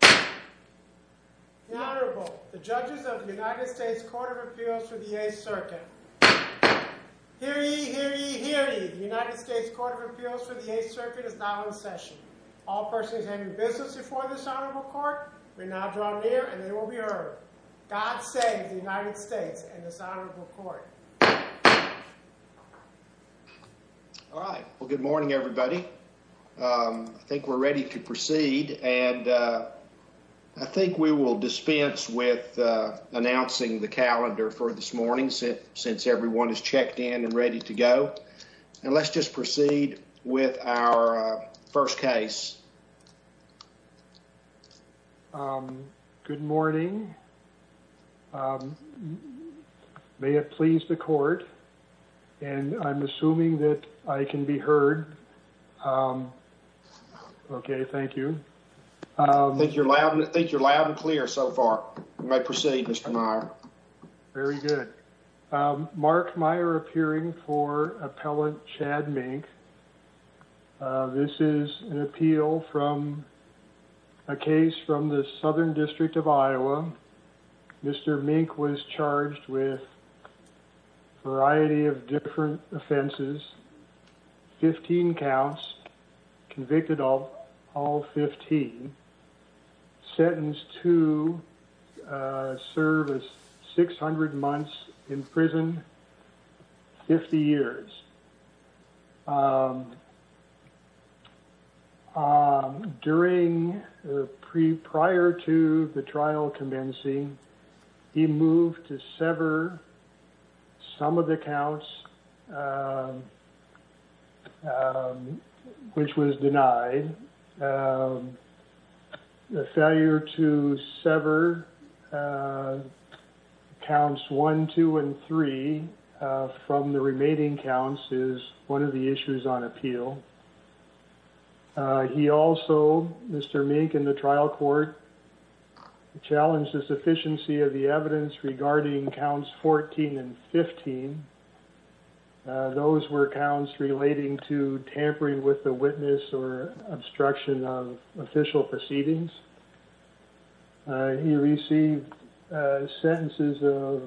The Honorable, the judges of the United States Court of Appeals for the Eighth Circuit. Hear ye, hear ye, hear ye. The United States Court of Appeals for the Eighth Circuit is now in session. All persons having business before this honorable court may now draw near and they will be heard. God save the United States and this honorable court. All right. Well, good morning, everybody. I think we're ready to proceed. And I think we will dispense with announcing the calendar for this morning since everyone is checked in and ready to go. And let's just proceed with our first case. Good morning. May it please the court. And I'm assuming that I can be heard. OK, thank you. I think you're loud and I think you're loud and clear so far. We may proceed, Mr. Meyer. Very good. Mark Meyer appearing for appellant Chad Mink. This is an appeal from a case from the southern district of Iowa. Mr. Mink was charged with a variety of different offenses. Fifteen counts, convicted of all 15. Sentenced to service 600 months in prison, 50 years. During prior to the trial commencing, he moved to sever some of the counts which was denied. The failure to sever counts 1, 2, and 3 from the remaining counts is one of the issues on appeal. He also, Mr. Mink in the trial court, challenged the sufficiency of the evidence regarding counts 14 and 15. Those were counts relating to tampering with the witness or obstruction of official proceedings. He received sentences of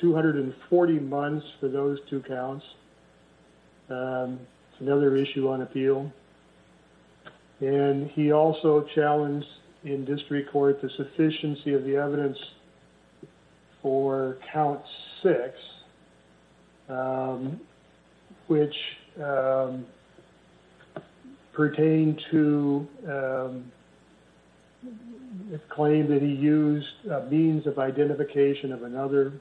240 months for those two counts. Another issue on appeal. And he also challenged in district court the sufficiency of the evidence for count 6, which pertained to a claim that he used a means of identification of another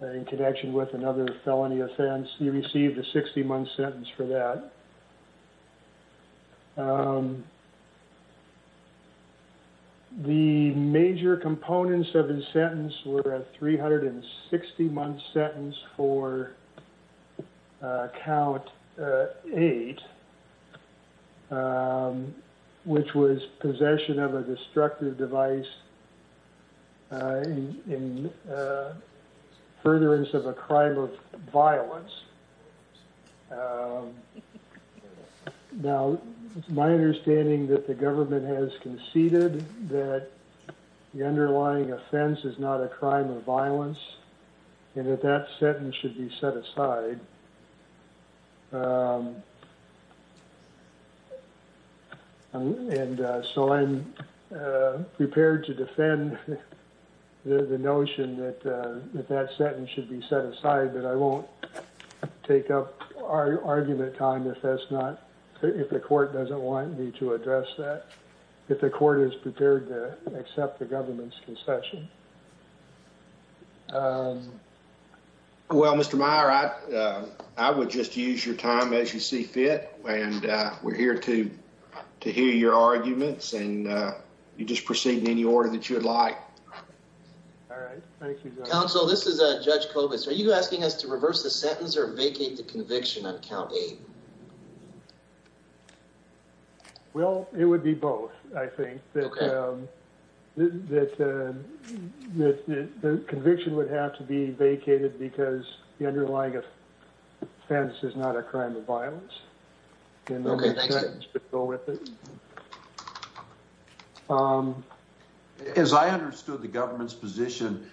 in connection with another felony offense. He received a 60-month sentence for that. The major components of his sentence were a 360-month sentence for count 8. He was charged with a felony offense which was possession of a destructive device in furtherance of a crime of violence. Now, my understanding that the government has conceded that the underlying offense is not a crime of violence and that that sentence should be set aside. And so I'm prepared to defend the notion that that sentence should be set aside, but I won't take up our argument time if that's not, if the court doesn't want me to address that, if the court is prepared to accept the government's concession. Well, Mr. Meyer, I would just use your time as you see fit, and we're here to hear your arguments and you just proceed in any order that you would like. All right. Thank you. Counsel. This is a judge. Are you asking us to reverse the sentence or vacate the conviction? I'm counting. Well, it would be both. I think that the conviction would have to be vacated because the underlying offense is not a crime of violence. Go with it. As I understood the government's position,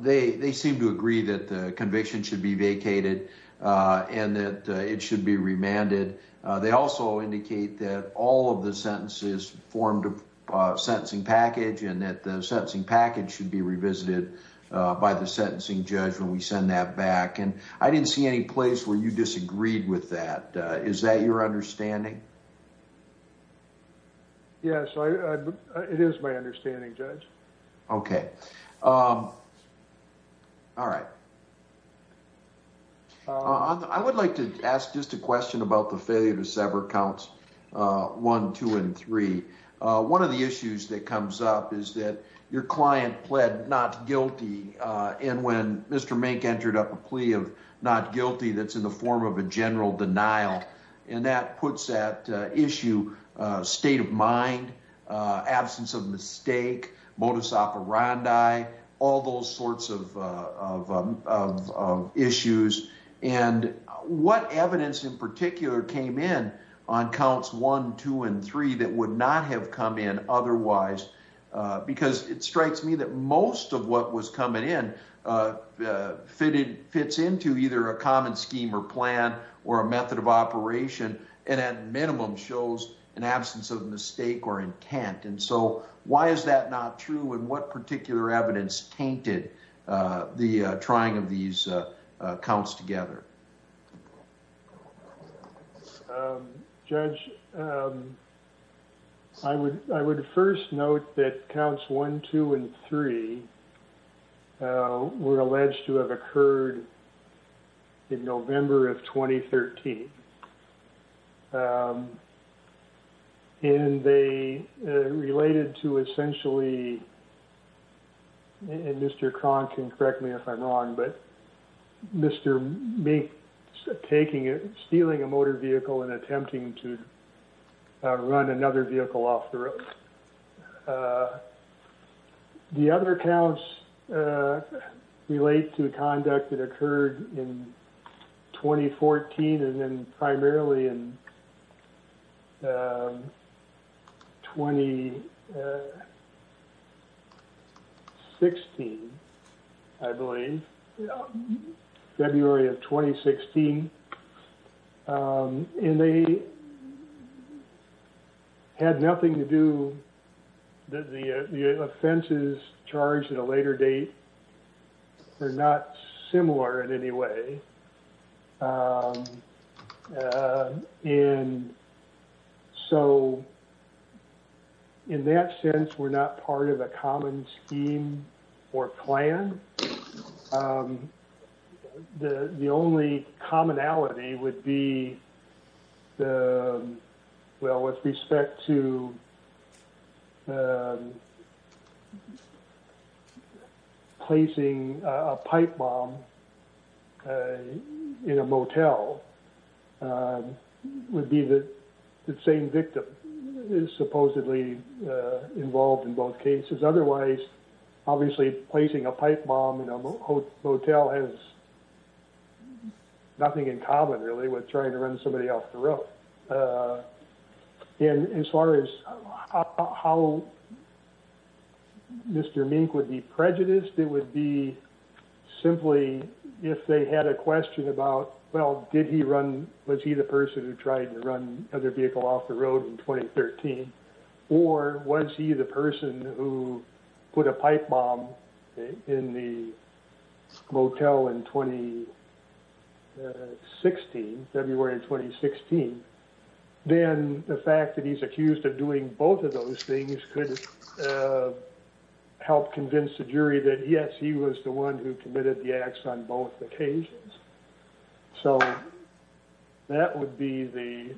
they seem to agree that the conviction should be vacated and that it should be remanded. They also indicate that all of the sentences formed a sentencing package and that the sentencing package should be revisited by the sentencing judge when we send that back. And I didn't see any place where you disagreed with that. Is that your understanding? Yes, it is my understanding, Judge. Okay. All right. I would like to ask just a question about the failure to sever counts one, two, and three. One of the issues that comes up is that your client pled not guilty, and when Mr. Mank entered up a plea of not guilty, that's in the form of a general denial. And that puts that issue state of mind, absence of mistake, modus operandi, all those sorts of issues. And what evidence in particular came in on counts one, two, and three that would not have come in otherwise? Because it strikes me that most of what was coming in fits into either a common scheme or plan or a method of operation and at minimum shows an absence of mistake or intent. And so why is that not true and what particular evidence tainted the trying of these counts together? Judge, I would first note that counts one, two, and three were alleged to have occurred in November of 2013. And they related to essentially, and Mr. Cronk can correct me if I'm wrong, but Mr. Mink stealing a motor vehicle and attempting to run another vehicle off the road. The other counts relate to conduct that occurred in 2014 and then primarily in 2016, I believe, February of 2016. And they had nothing to do, the offenses charged at a later date were not similar in any way. And so in that sense, we're not part of a common scheme or plan. The only commonality would be, well, with respect to placing a pipe bomb in a motel would be the same victim is supposedly involved in both cases. Otherwise, obviously placing a pipe bomb in a motel has nothing in common really with trying to run somebody off the road. And as far as how Mr. Mink would be prejudiced, it would be simply if they had a question about, well, did he run, was he the person who tried to run another vehicle off the road in 2013? Or was he the person who put a pipe bomb in the motel in 2016, February of 2016? Then the fact that he's accused of doing both of those things could help convince the jury that yes, he was the one who committed the acts on both occasions. So that would be the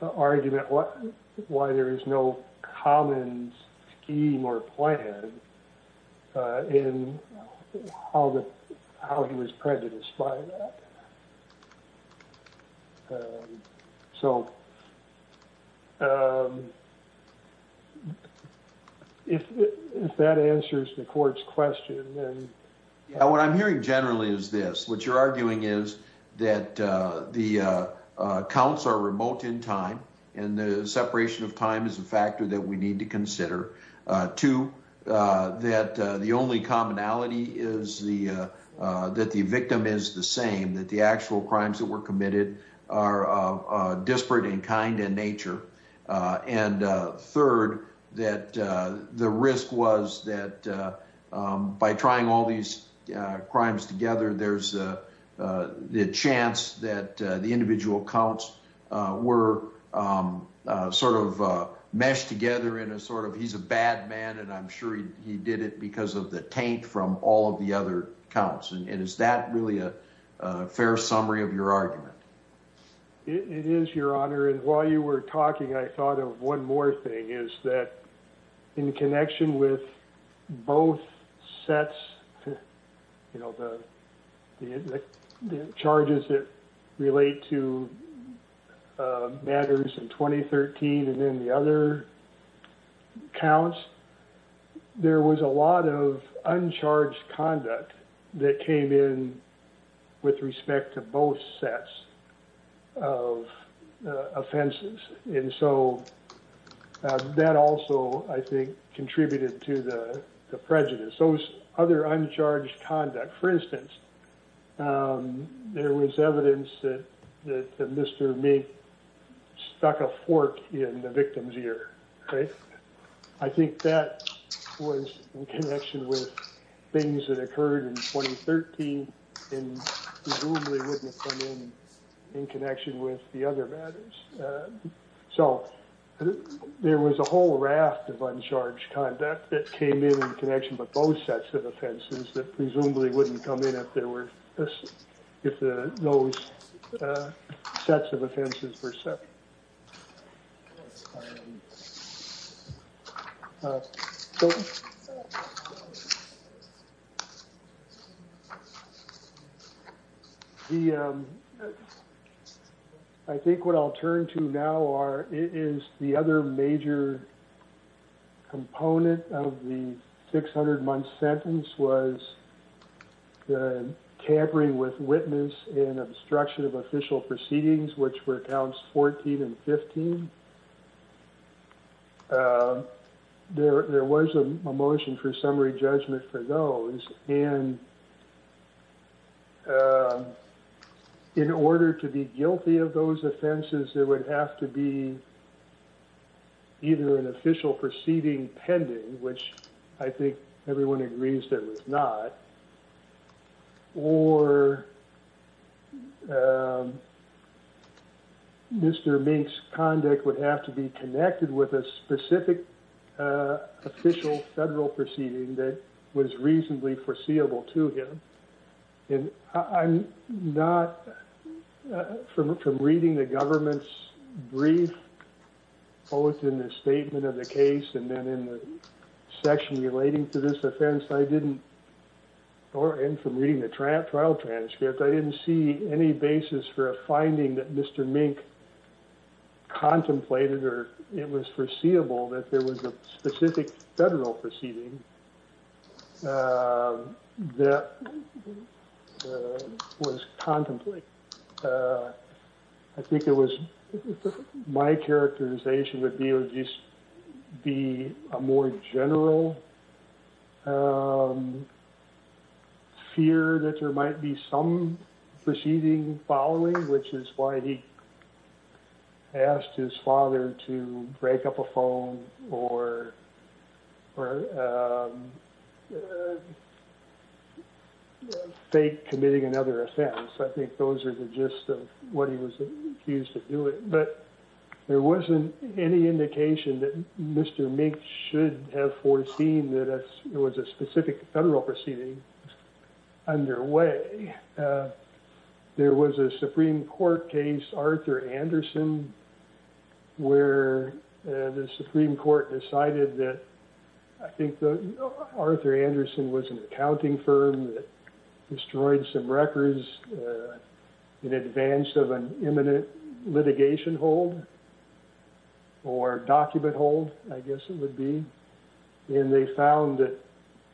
argument why there is no common scheme or plan in how he was prejudiced by that. So if that answers the court's question. What I'm hearing generally is this. What you're arguing is that the counts are remote in time and the separation of time is a factor that we need to consider. Two, that the only commonality is that the victim is the same, that the actual crimes that were committed are disparate and kind in nature. And third, that the risk was that by trying all these crimes together, there's a chance that the individual counts were sort of meshed together in a sort of he's a bad man. And I'm sure he did it because of the taint from all of the other counts. And is that really a fair summary of your argument? It is, Your Honor. And while you were talking, I thought of one more thing, is that in connection with both sets, you know, the charges that relate to matters in 2013 and then the other counts, there was a lot of uncharged conduct that came in with respect to both sets of offenses. And so that also, I think, contributed to the prejudice. Those other uncharged conduct, for instance, there was evidence that Mr. Meek stuck a fork in the victim's ear. I think that was in connection with things that occurred in 2013 and presumably wouldn't have come in in connection with the other matters. So there was a whole raft of uncharged conduct that came in in connection with both sets of offenses that presumably wouldn't come in if those sets of offenses were separate. So I think what I'll turn to now is the other major component of the 600-month sentence was the tampering with witness and obstruction of official proceedings, which were accounts 14 and 15. There was a motion for summary judgment for those, and in order to be guilty of those offenses, there would have to be either an official proceeding pending, which I think everyone agrees there was not, or Mr. Meek's conduct would have to be connected with a specific official federal proceeding that was reasonably foreseeable to him. I'm not, from reading the government's brief, both in the statement of the case and then in the section relating to this offense, I didn't, and from reading the trial transcripts, I didn't see any basis for a finding that Mr. Meek contemplated or it was foreseeable that there was a specific federal proceeding that was contemplated. I think it was my characterization would be a more general fear that there might be some proceeding following, which is why he asked his father to break up a phone or fake committing another offense. I think those are the gist of what he was accused of doing, but there wasn't any indication that Mr. Meek should have foreseen that it was a specific federal proceeding underway. There was a Supreme Court case, Arthur Anderson, where the Supreme Court decided that, I think Arthur Anderson was an accounting firm that destroyed some records in advance of an imminent litigation hold or document hold, I guess it would be, and they found that,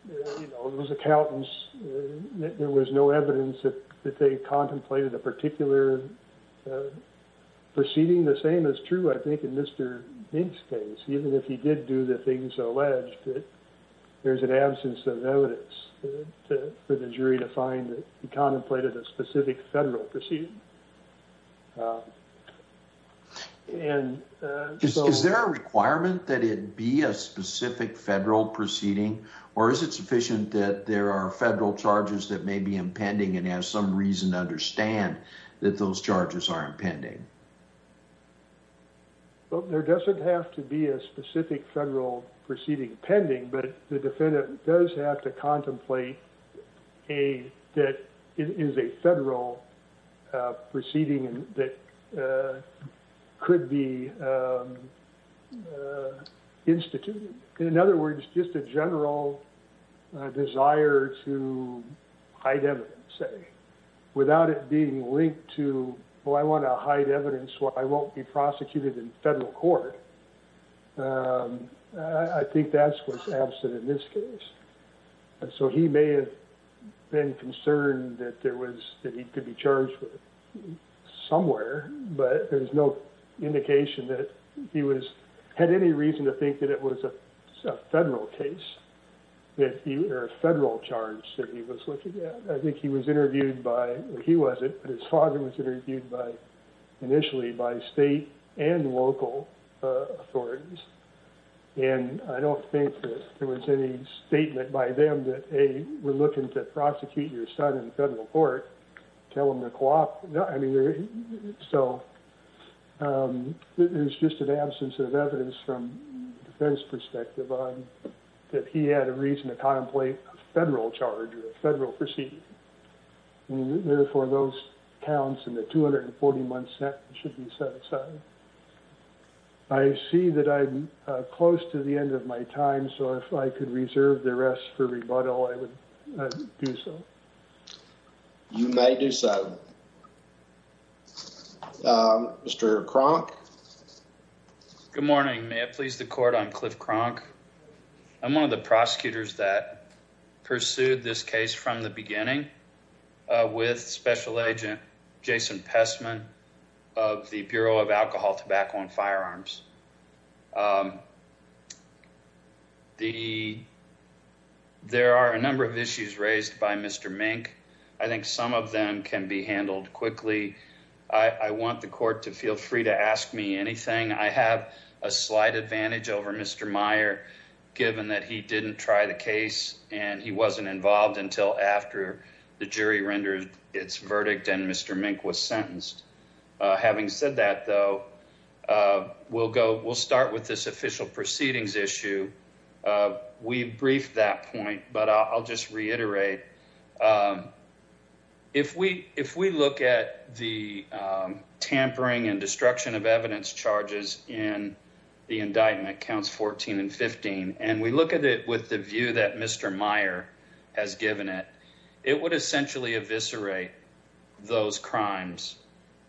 you know, those accountants, there was no evidence that they contemplated a particular proceeding. The same is true, I think, in Mr. Meek's case. Even if he did do the things alleged, there's an absence of evidence for the jury to find that he contemplated a specific federal proceeding. Is there a requirement that it be a specific federal proceeding, or is it sufficient that there are federal charges that may be impending and have some reason to understand that those charges are impending? Well, there doesn't have to be a specific federal proceeding pending, but the defendant does have to contemplate that it is a federal proceeding that could be instituted. In other words, just a general desire to hide evidence, say, without it being linked to, well, I want to hide evidence, well, I won't be prosecuted in federal court. I think that's what's absent in this case. So he may have been concerned that he could be charged with it somewhere, but there's no indication that he had any reason to think that it was a federal charge that he was looking at. I think he was interviewed by, well, he wasn't, but his father was interviewed initially by state and local authorities, and I don't think that there was any statement by them that, A, we're looking to prosecute your son in federal court. So there's just an absence of evidence from a defense perspective on that he had a reason to contemplate a federal charge or a federal proceeding. Therefore, those counts in the 241 should be set aside. I see that I'm close to the end of my time, so if I could reserve the rest for rebuttal, I would do so. Mr. Cronk. Good morning. May it please the court. I'm Cliff Cronk. I'm one of the prosecutors that pursued this case from the beginning with Special Agent Jason Pestman of the Bureau of Alcohol, Tobacco, and Firearms. There are a number of issues raised by Mr. Mink. I think some of them can be handled quickly. I want the court to feel free to ask me anything. I have a slight advantage over Mr. Meyer, given that he didn't try the case and he wasn't involved until after the jury rendered its verdict and Mr. Mink was sentenced. Having said that, though, we'll start with this official proceedings issue. We briefed that point, but I'll just reiterate. If we look at the tampering and destruction of evidence charges in the indictment, counts 14 and 15, and we look at it with the view that Mr. Meyer has given it, it would essentially eviscerate those crimes.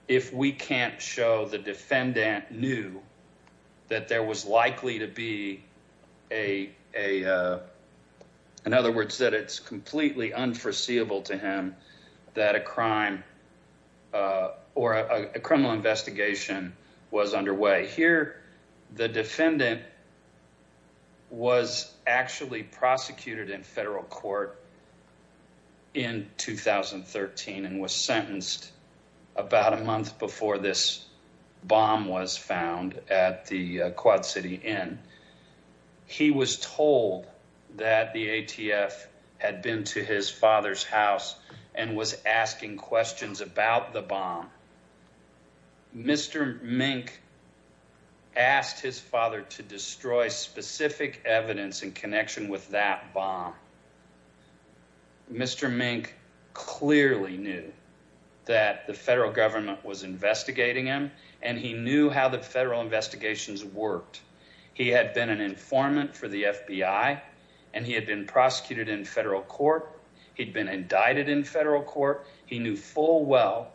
If we can't show the defendant knew that there was likely to be a, in other words, that it's completely unforeseeable to him that a crime or a criminal investigation was underway. Here, the defendant was actually prosecuted in federal court in 2013 and was sentenced about a month before this bomb was found at the Quad City Inn. He was told that the ATF had been to his father's house and was asking questions about the bomb. Mr. Mink asked his father to destroy specific evidence in connection with that bomb. Mr. Mink clearly knew that the federal government was investigating him and he knew how the federal investigations worked. He had been an informant for the FBI and he had been prosecuted in federal court. He'd been indicted in federal court. He knew full well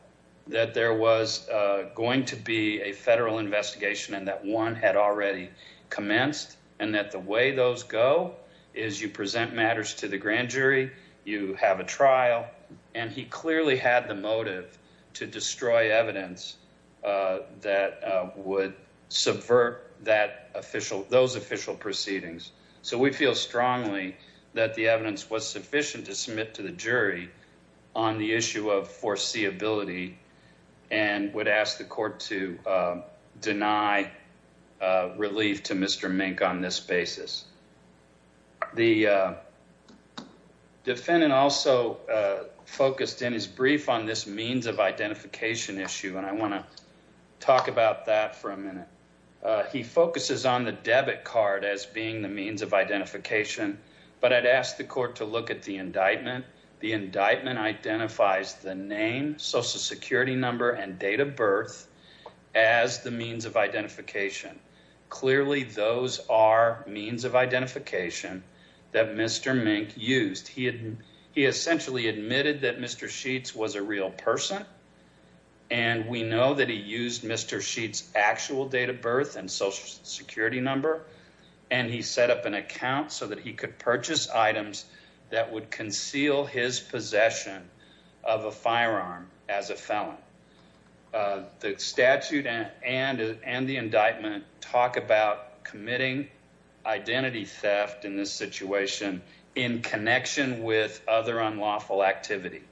that there was going to be a federal investigation and that one had already commenced and that the way those go is you present matters to the grand jury. You have a trial and he clearly had the motive to destroy evidence that would subvert that official, those official proceedings. So we feel strongly that the evidence was sufficient to submit to the jury on the issue of foreseeability and would ask the court to deny relief to Mr. Mink on this basis. The defendant also focused in his brief on this means of identification issue and I want to talk about that for a minute. He focuses on the debit card as being the means of identification, but I'd ask the court to look at the indictment. The indictment identifies the name, social security number and date of birth as the means of identification. Clearly, those are means of identification that Mr. Mink used. He essentially admitted that Mr. Sheets was a real person and we know that he used Mr. Sheets' actual date of birth and social security number and he set up an account so that he could purchase items that would conceal his possession of a firearm as a felon. The statute and the indictment talk about committing identity theft in this situation in connection with other unlawful activity.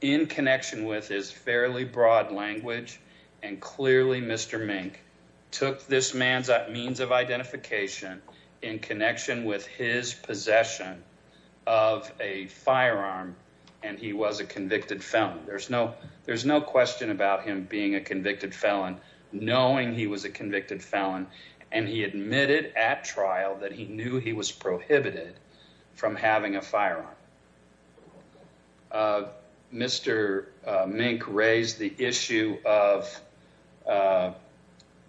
In connection with his fairly broad language and clearly Mr. Mink took this man's means of identification in connection with his possession of a firearm and he was a convicted felon. There's no question about him being a convicted felon knowing he was a convicted felon and he admitted at trial that he knew he was prohibited from having a firearm. Mr. Mink raised the issue of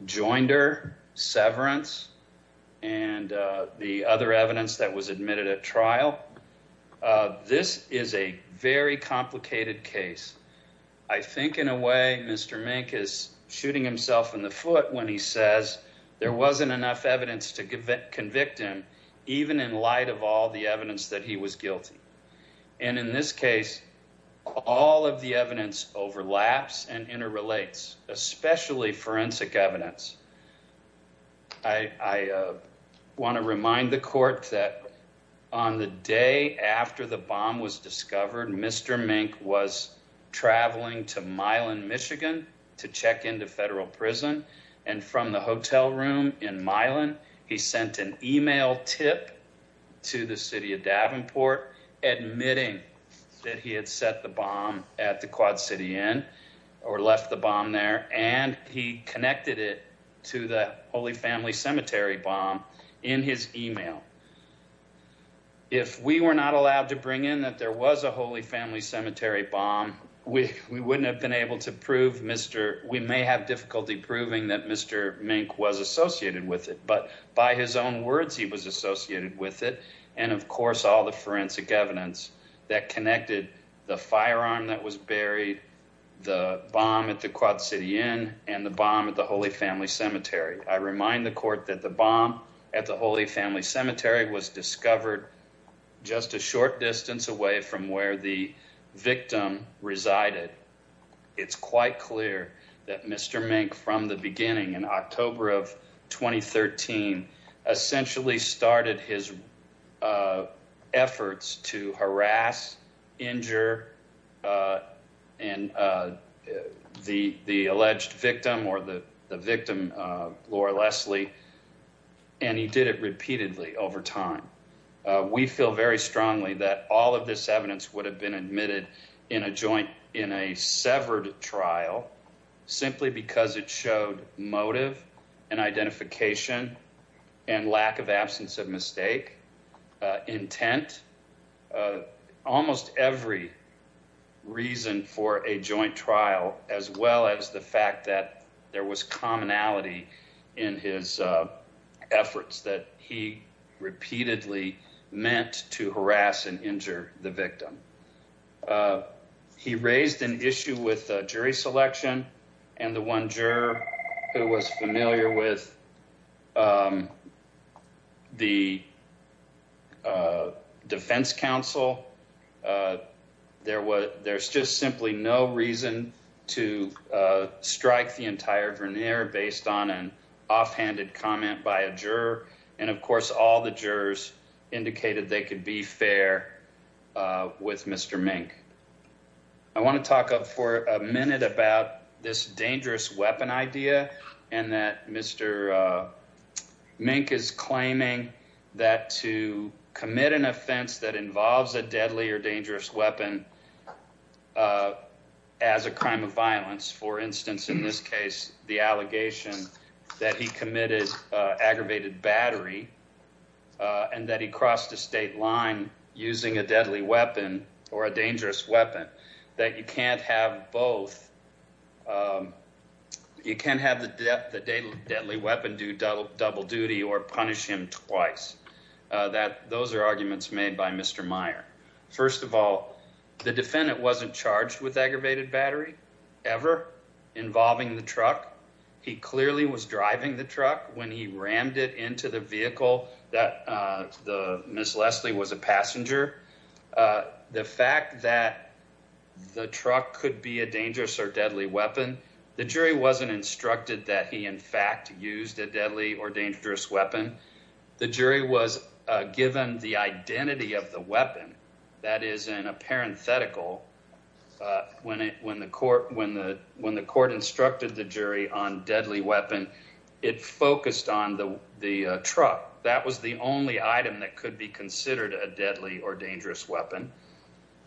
joinder severance and the other evidence that was admitted at trial. This is a very complicated case. I think in a way Mr. Mink is shooting himself in the foot when he says there wasn't enough evidence to convict him even in light of all the evidence that he was guilty. In this case, all of the evidence overlaps and interrelates, especially forensic evidence. I want to remind the court that on the day after the bomb was discovered, Mr. Mink was traveling to Milan, Michigan to check into federal prison. From the hotel room in Milan, he sent an email tip to the city of Davenport admitting that he had set the bomb at the Quad City Inn or left the bomb there. He connected it to the Holy Family Cemetery bomb in his email. If we were not allowed to bring in that there was a Holy Family Cemetery bomb, we may have difficulty proving that Mr. Mink was associated with it. But by his own words, he was associated with it and of course all the forensic evidence that connected the firearm that was buried, the bomb at the Quad City Inn, and the bomb at the Holy Family Cemetery. I remind the court that the bomb at the Holy Family Cemetery was discovered just a short distance away from where the victim resided. It's quite clear that Mr. Mink, from the beginning in October of 2013, essentially started his efforts to harass, injure the alleged victim or the victim, Laura Leslie, and he did it repeatedly over time. We feel very strongly that all of this evidence would have been admitted in a joint, in a severed trial, simply because it showed motive and identification and lack of absence of mistake, intent. Almost every reason for a joint trial, as well as the fact that there was commonality in his efforts that he repeatedly meant to harass and injure the victim. He raised an issue with jury selection and the one juror who was familiar with the defense counsel, there's just simply no reason to strike the entire veneer based on an offhanded comment by a juror. And of course, all the jurors indicated they could be fair with Mr. Mink. I want to talk for a minute about this dangerous weapon idea and that Mr. Mink is claiming that to commit an offense that involves a deadly or dangerous weapon as a crime of violence, for instance, in this case, the allegation that he committed aggravated battery. And that he crossed the state line using a deadly weapon or a dangerous weapon, that you can't have both. You can't have the deadly weapon do double duty or punish him twice. That those are arguments made by Mr. Meyer. First of all, the defendant wasn't charged with aggravated battery ever involving the truck. He clearly was driving the truck when he rammed it into the vehicle that Ms. Leslie was a passenger. The fact that the truck could be a dangerous or deadly weapon, the jury wasn't instructed that he in fact used a deadly or dangerous weapon. The jury was given the identity of the weapon that is in a parenthetical. When the court instructed the jury on deadly weapon, it focused on the truck. That was the only item that could be considered a deadly or dangerous weapon.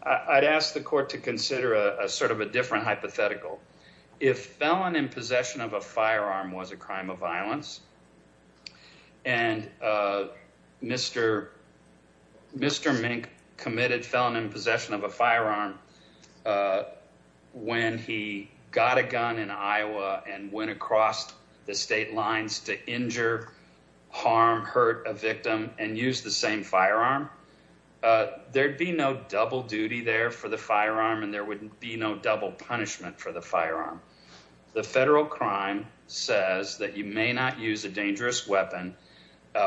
I'd ask the court to consider a sort of a different hypothetical. If felon in possession of a firearm was a crime of violence. And Mr. Mink committed felon in possession of a firearm when he got a gun in Iowa and went across the state lines to injure, harm, hurt a victim and use the same firearm. There'd be no double duty there for the firearm and there wouldn't be no double punishment for the firearm. The federal crime says that you may not use a dangerous weapon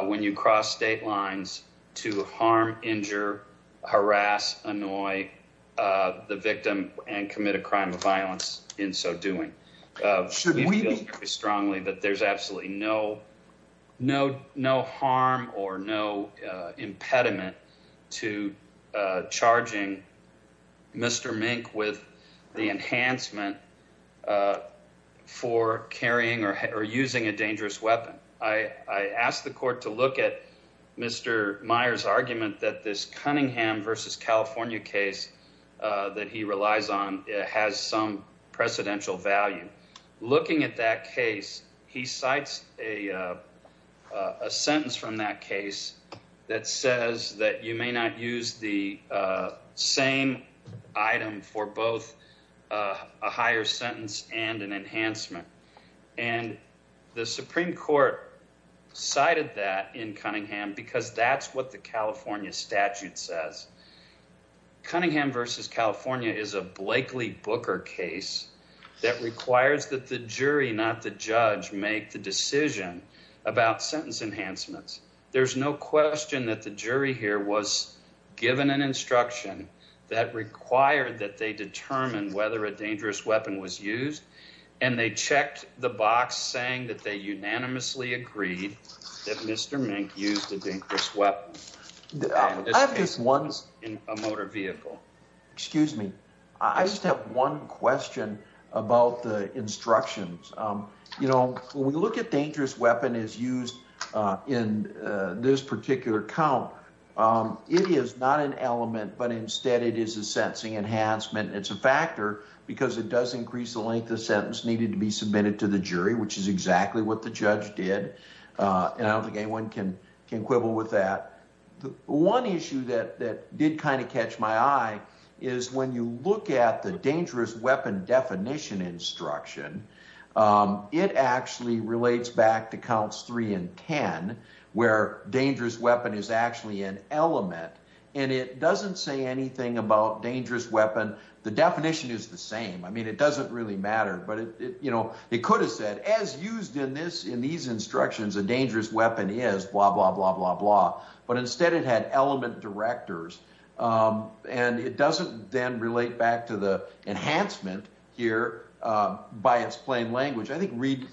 when you cross state lines to harm, injure, harass, annoy the victim and commit a crime of violence in so doing. We feel very strongly that there's absolutely no harm or no impediment to charging Mr. Mink with the enhancement for carrying or using a dangerous weapon. I asked the court to look at Mr. Meyer's argument that this Cunningham versus California case that he relies on has some precedential value. Looking at that case, he cites a sentence from that case that says that you may not use the same item for both a higher sentence and an enhancement. And the Supreme Court cited that in Cunningham because that's what the California statute says. Cunningham versus California is a Blakely Booker case that requires that the jury, not the judge, make the decision about sentence enhancements. There's no question that the jury here was given an instruction that required that they determine whether a dangerous weapon was used. And they checked the box saying that they unanimously agreed that Mr. Mink used a dangerous weapon in a motor vehicle. Excuse me. I just have one question about the instructions. You know, when we look at dangerous weapon as used in this particular count, it is not an element, but instead it is a sentencing enhancement. It's a factor because it does increase the length of sentence needed to be submitted to the jury, which is exactly what the judge did. And I don't think anyone can quibble with that. One issue that did kind of catch my eye is when you look at the dangerous weapon definition instruction, it actually relates back to counts 3 and 10, where dangerous weapon is actually an element. And it doesn't say anything about dangerous weapon. The definition is the same. I mean, it doesn't really matter. But, you know, it could have said, as used in these instructions, a dangerous weapon is blah, blah, blah, blah, blah. But instead it had element directors. And it doesn't then relate back to the enhancement here by its plain language. I think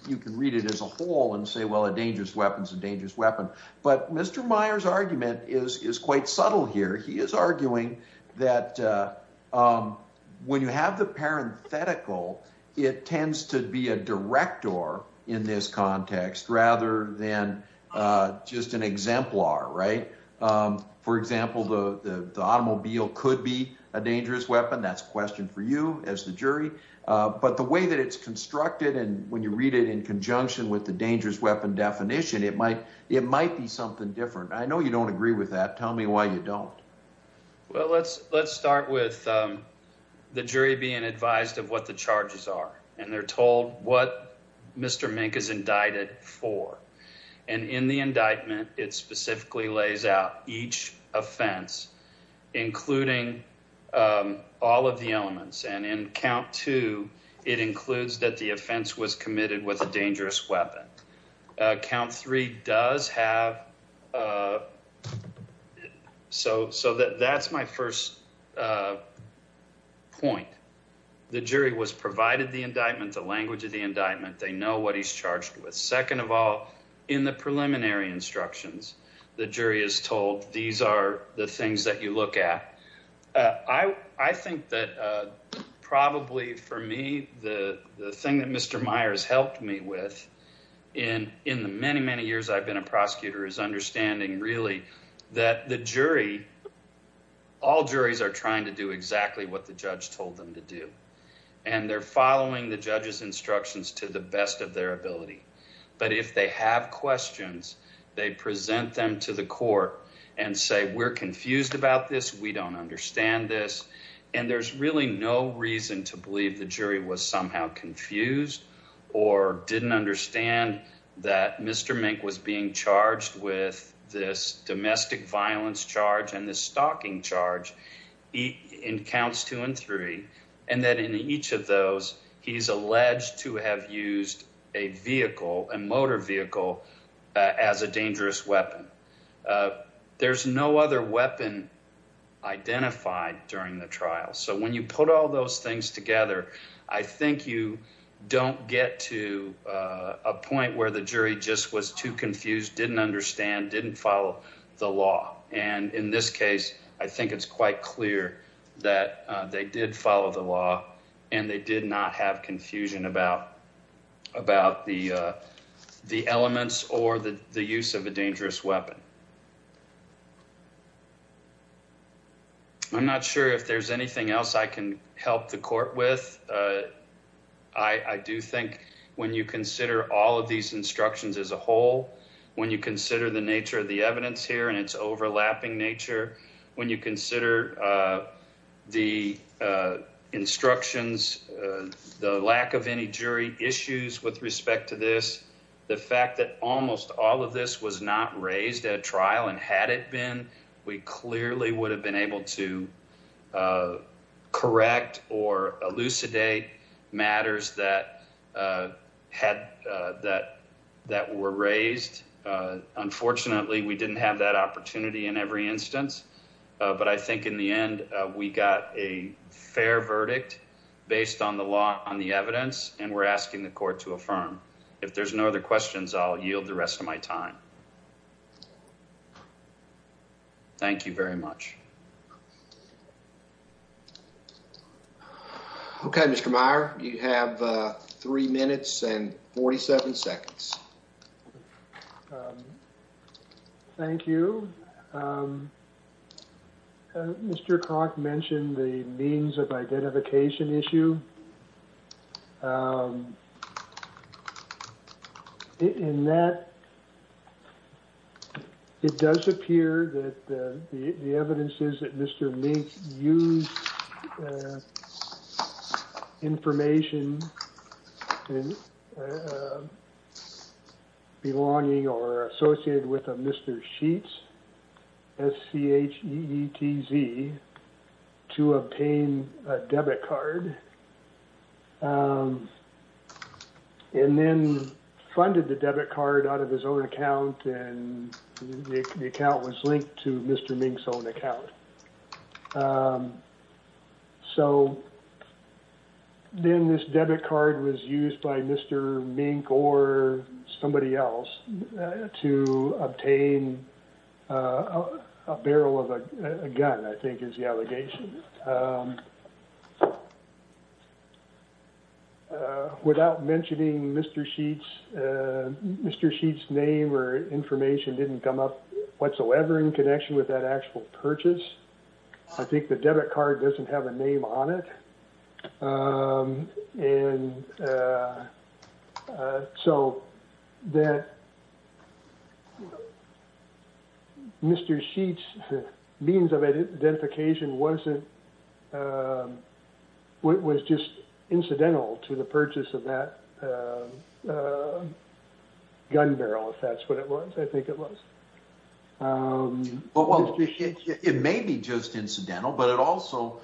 you can read it as a whole and say, well, a dangerous weapon is a dangerous weapon. But Mr. Meyer's argument is quite subtle here. He is arguing that when you have the parenthetical, it tends to be a director in this context rather than just an exemplar, right? For example, the automobile could be a dangerous weapon. That's a question for you as the jury. But the way that it's constructed and when you read it in conjunction with the dangerous weapon definition, it might be something different. I know you don't agree with that. Tell me why you don't. Well, let's start with the jury being advised of what the charges are. And they're told what Mr. Mink is indicted for. And in the indictment, it specifically lays out each offense, including all of the elements. And in count two, it includes that the offense was committed with a dangerous weapon. Count three does have. So that's my first point. The jury was provided the indictment, the language of the indictment. They know what he's charged with. Second of all, in the preliminary instructions, the jury is told these are the things that you look at. I think that probably for me, the thing that Mr. Meyer has helped me with in the many, many years I've been a prosecutor is understanding really that the jury, all juries are trying to do exactly what the judge told them to do. And they're following the judge's instructions to the best of their ability. But if they have questions, they present them to the court and say, we're confused about this. We don't understand this. And there's really no reason to believe the jury was somehow confused or didn't understand that Mr. Mink was being charged with this domestic violence charge and the stalking charge. In counts two and three. And then in each of those, he's alleged to have used a vehicle, a motor vehicle as a dangerous weapon. There's no other weapon identified during the trial. So when you put all those things together, I think you don't get to a point where the jury just was too confused, didn't understand, didn't follow the law. And in this case, I think it's quite clear that they did follow the law and they did not have confusion about the elements or the use of a dangerous weapon. I'm not sure if there's anything else I can help the court with. I do think when you consider all of these instructions as a whole, when you consider the nature of the evidence here and its overlapping nature, when you consider the instructions, the lack of any jury issues with respect to this, the fact that almost all of this was not raised at trial and had it been, we clearly would have been able to correct or elucidate matters that were raised. Unfortunately, we didn't have that opportunity in every instance. But I think in the end, we got a fair verdict based on the law, on the evidence. And we're asking the court to affirm. If there's no other questions, I'll yield the rest of my time. Thank you very much. OK, Mr. Meyer, you have three minutes and 47 seconds. Thank you. Mr. Kroc mentioned the means of identification issue. In that, it does appear that the evidence is that Mr. Sheets, S-C-H-E-E-T-Z, to obtain a debit card and then funded the debit card out of his own account and the account was linked to Mr. Mink's own account. So then this debit card was used by Mr. Mink or somebody else to obtain a barrel of a gun, I think is the allegation. Without mentioning Mr. Sheets, Mr. Sheets' name or information didn't come up whatsoever in connection with that actual purchase. I think the debit card doesn't have a name on it. And so that Mr. Sheets' means of identification wasn't, was just incidental to the purchase of that gun barrel, if that's what it was, I think it was. Well, it may be just incidental, but it also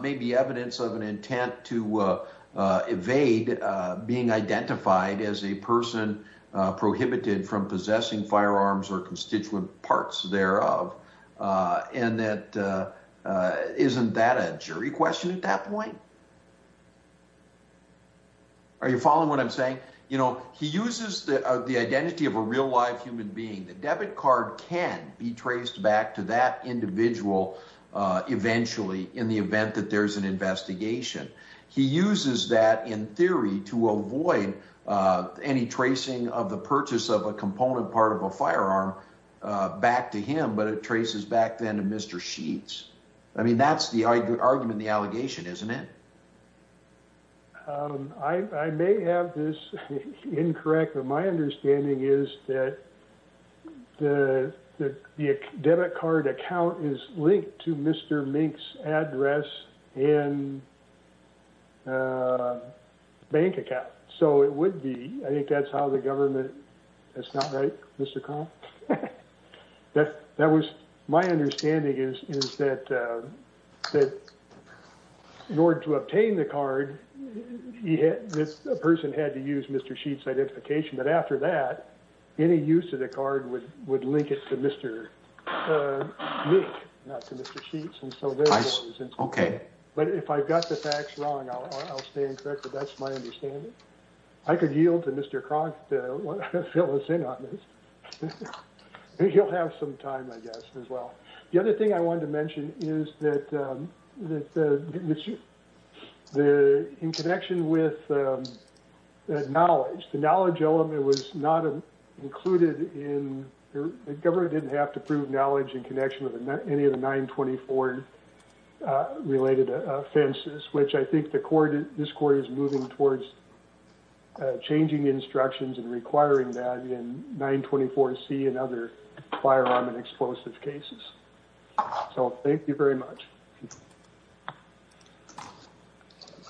may be evidence of an intent to evade being identified as a person prohibited from possessing firearms or constituent parts thereof. And that isn't that a jury question at that point? Are you following what I'm saying? You know, he uses the identity of a real live human being. The debit card can be traced back to that individual eventually in the event that there's an investigation. He uses that in theory to avoid any tracing of the purchase of a component part of a firearm back to him. But it traces back then to Mr. Sheets. I mean, that's the argument, the allegation, isn't it? I may have this incorrect, but my understanding is that the debit card account is linked to Mr. Mink's address and bank account. So it would be. I think that's how the government. That's not right. Mr. In order to obtain the card, a person had to use Mr. Sheets' identification. But after that, any use of the card would link it to Mr. Mink, not to Mr. Sheets. But if I've got the facts wrong, I'll stay incorrect. But that's my understanding. I could yield to Mr. Cronk to fill us in on this. He'll have some time, I guess, as well. The other thing I wanted to mention is that in connection with knowledge, the knowledge element was not included in. The government didn't have to prove knowledge in connection with any of the 924 related offenses, which I think this court is moving towards changing instructions and requiring that in 924C and other firearm and explosive cases. So thank you very much.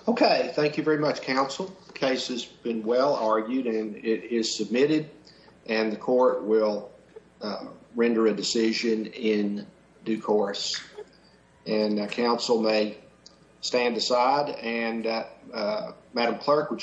OK. Thank you very much, counsel. Case has been well argued and it is submitted and the court will render a decision in due course and counsel may stand aside. And Madam Clerk, would you.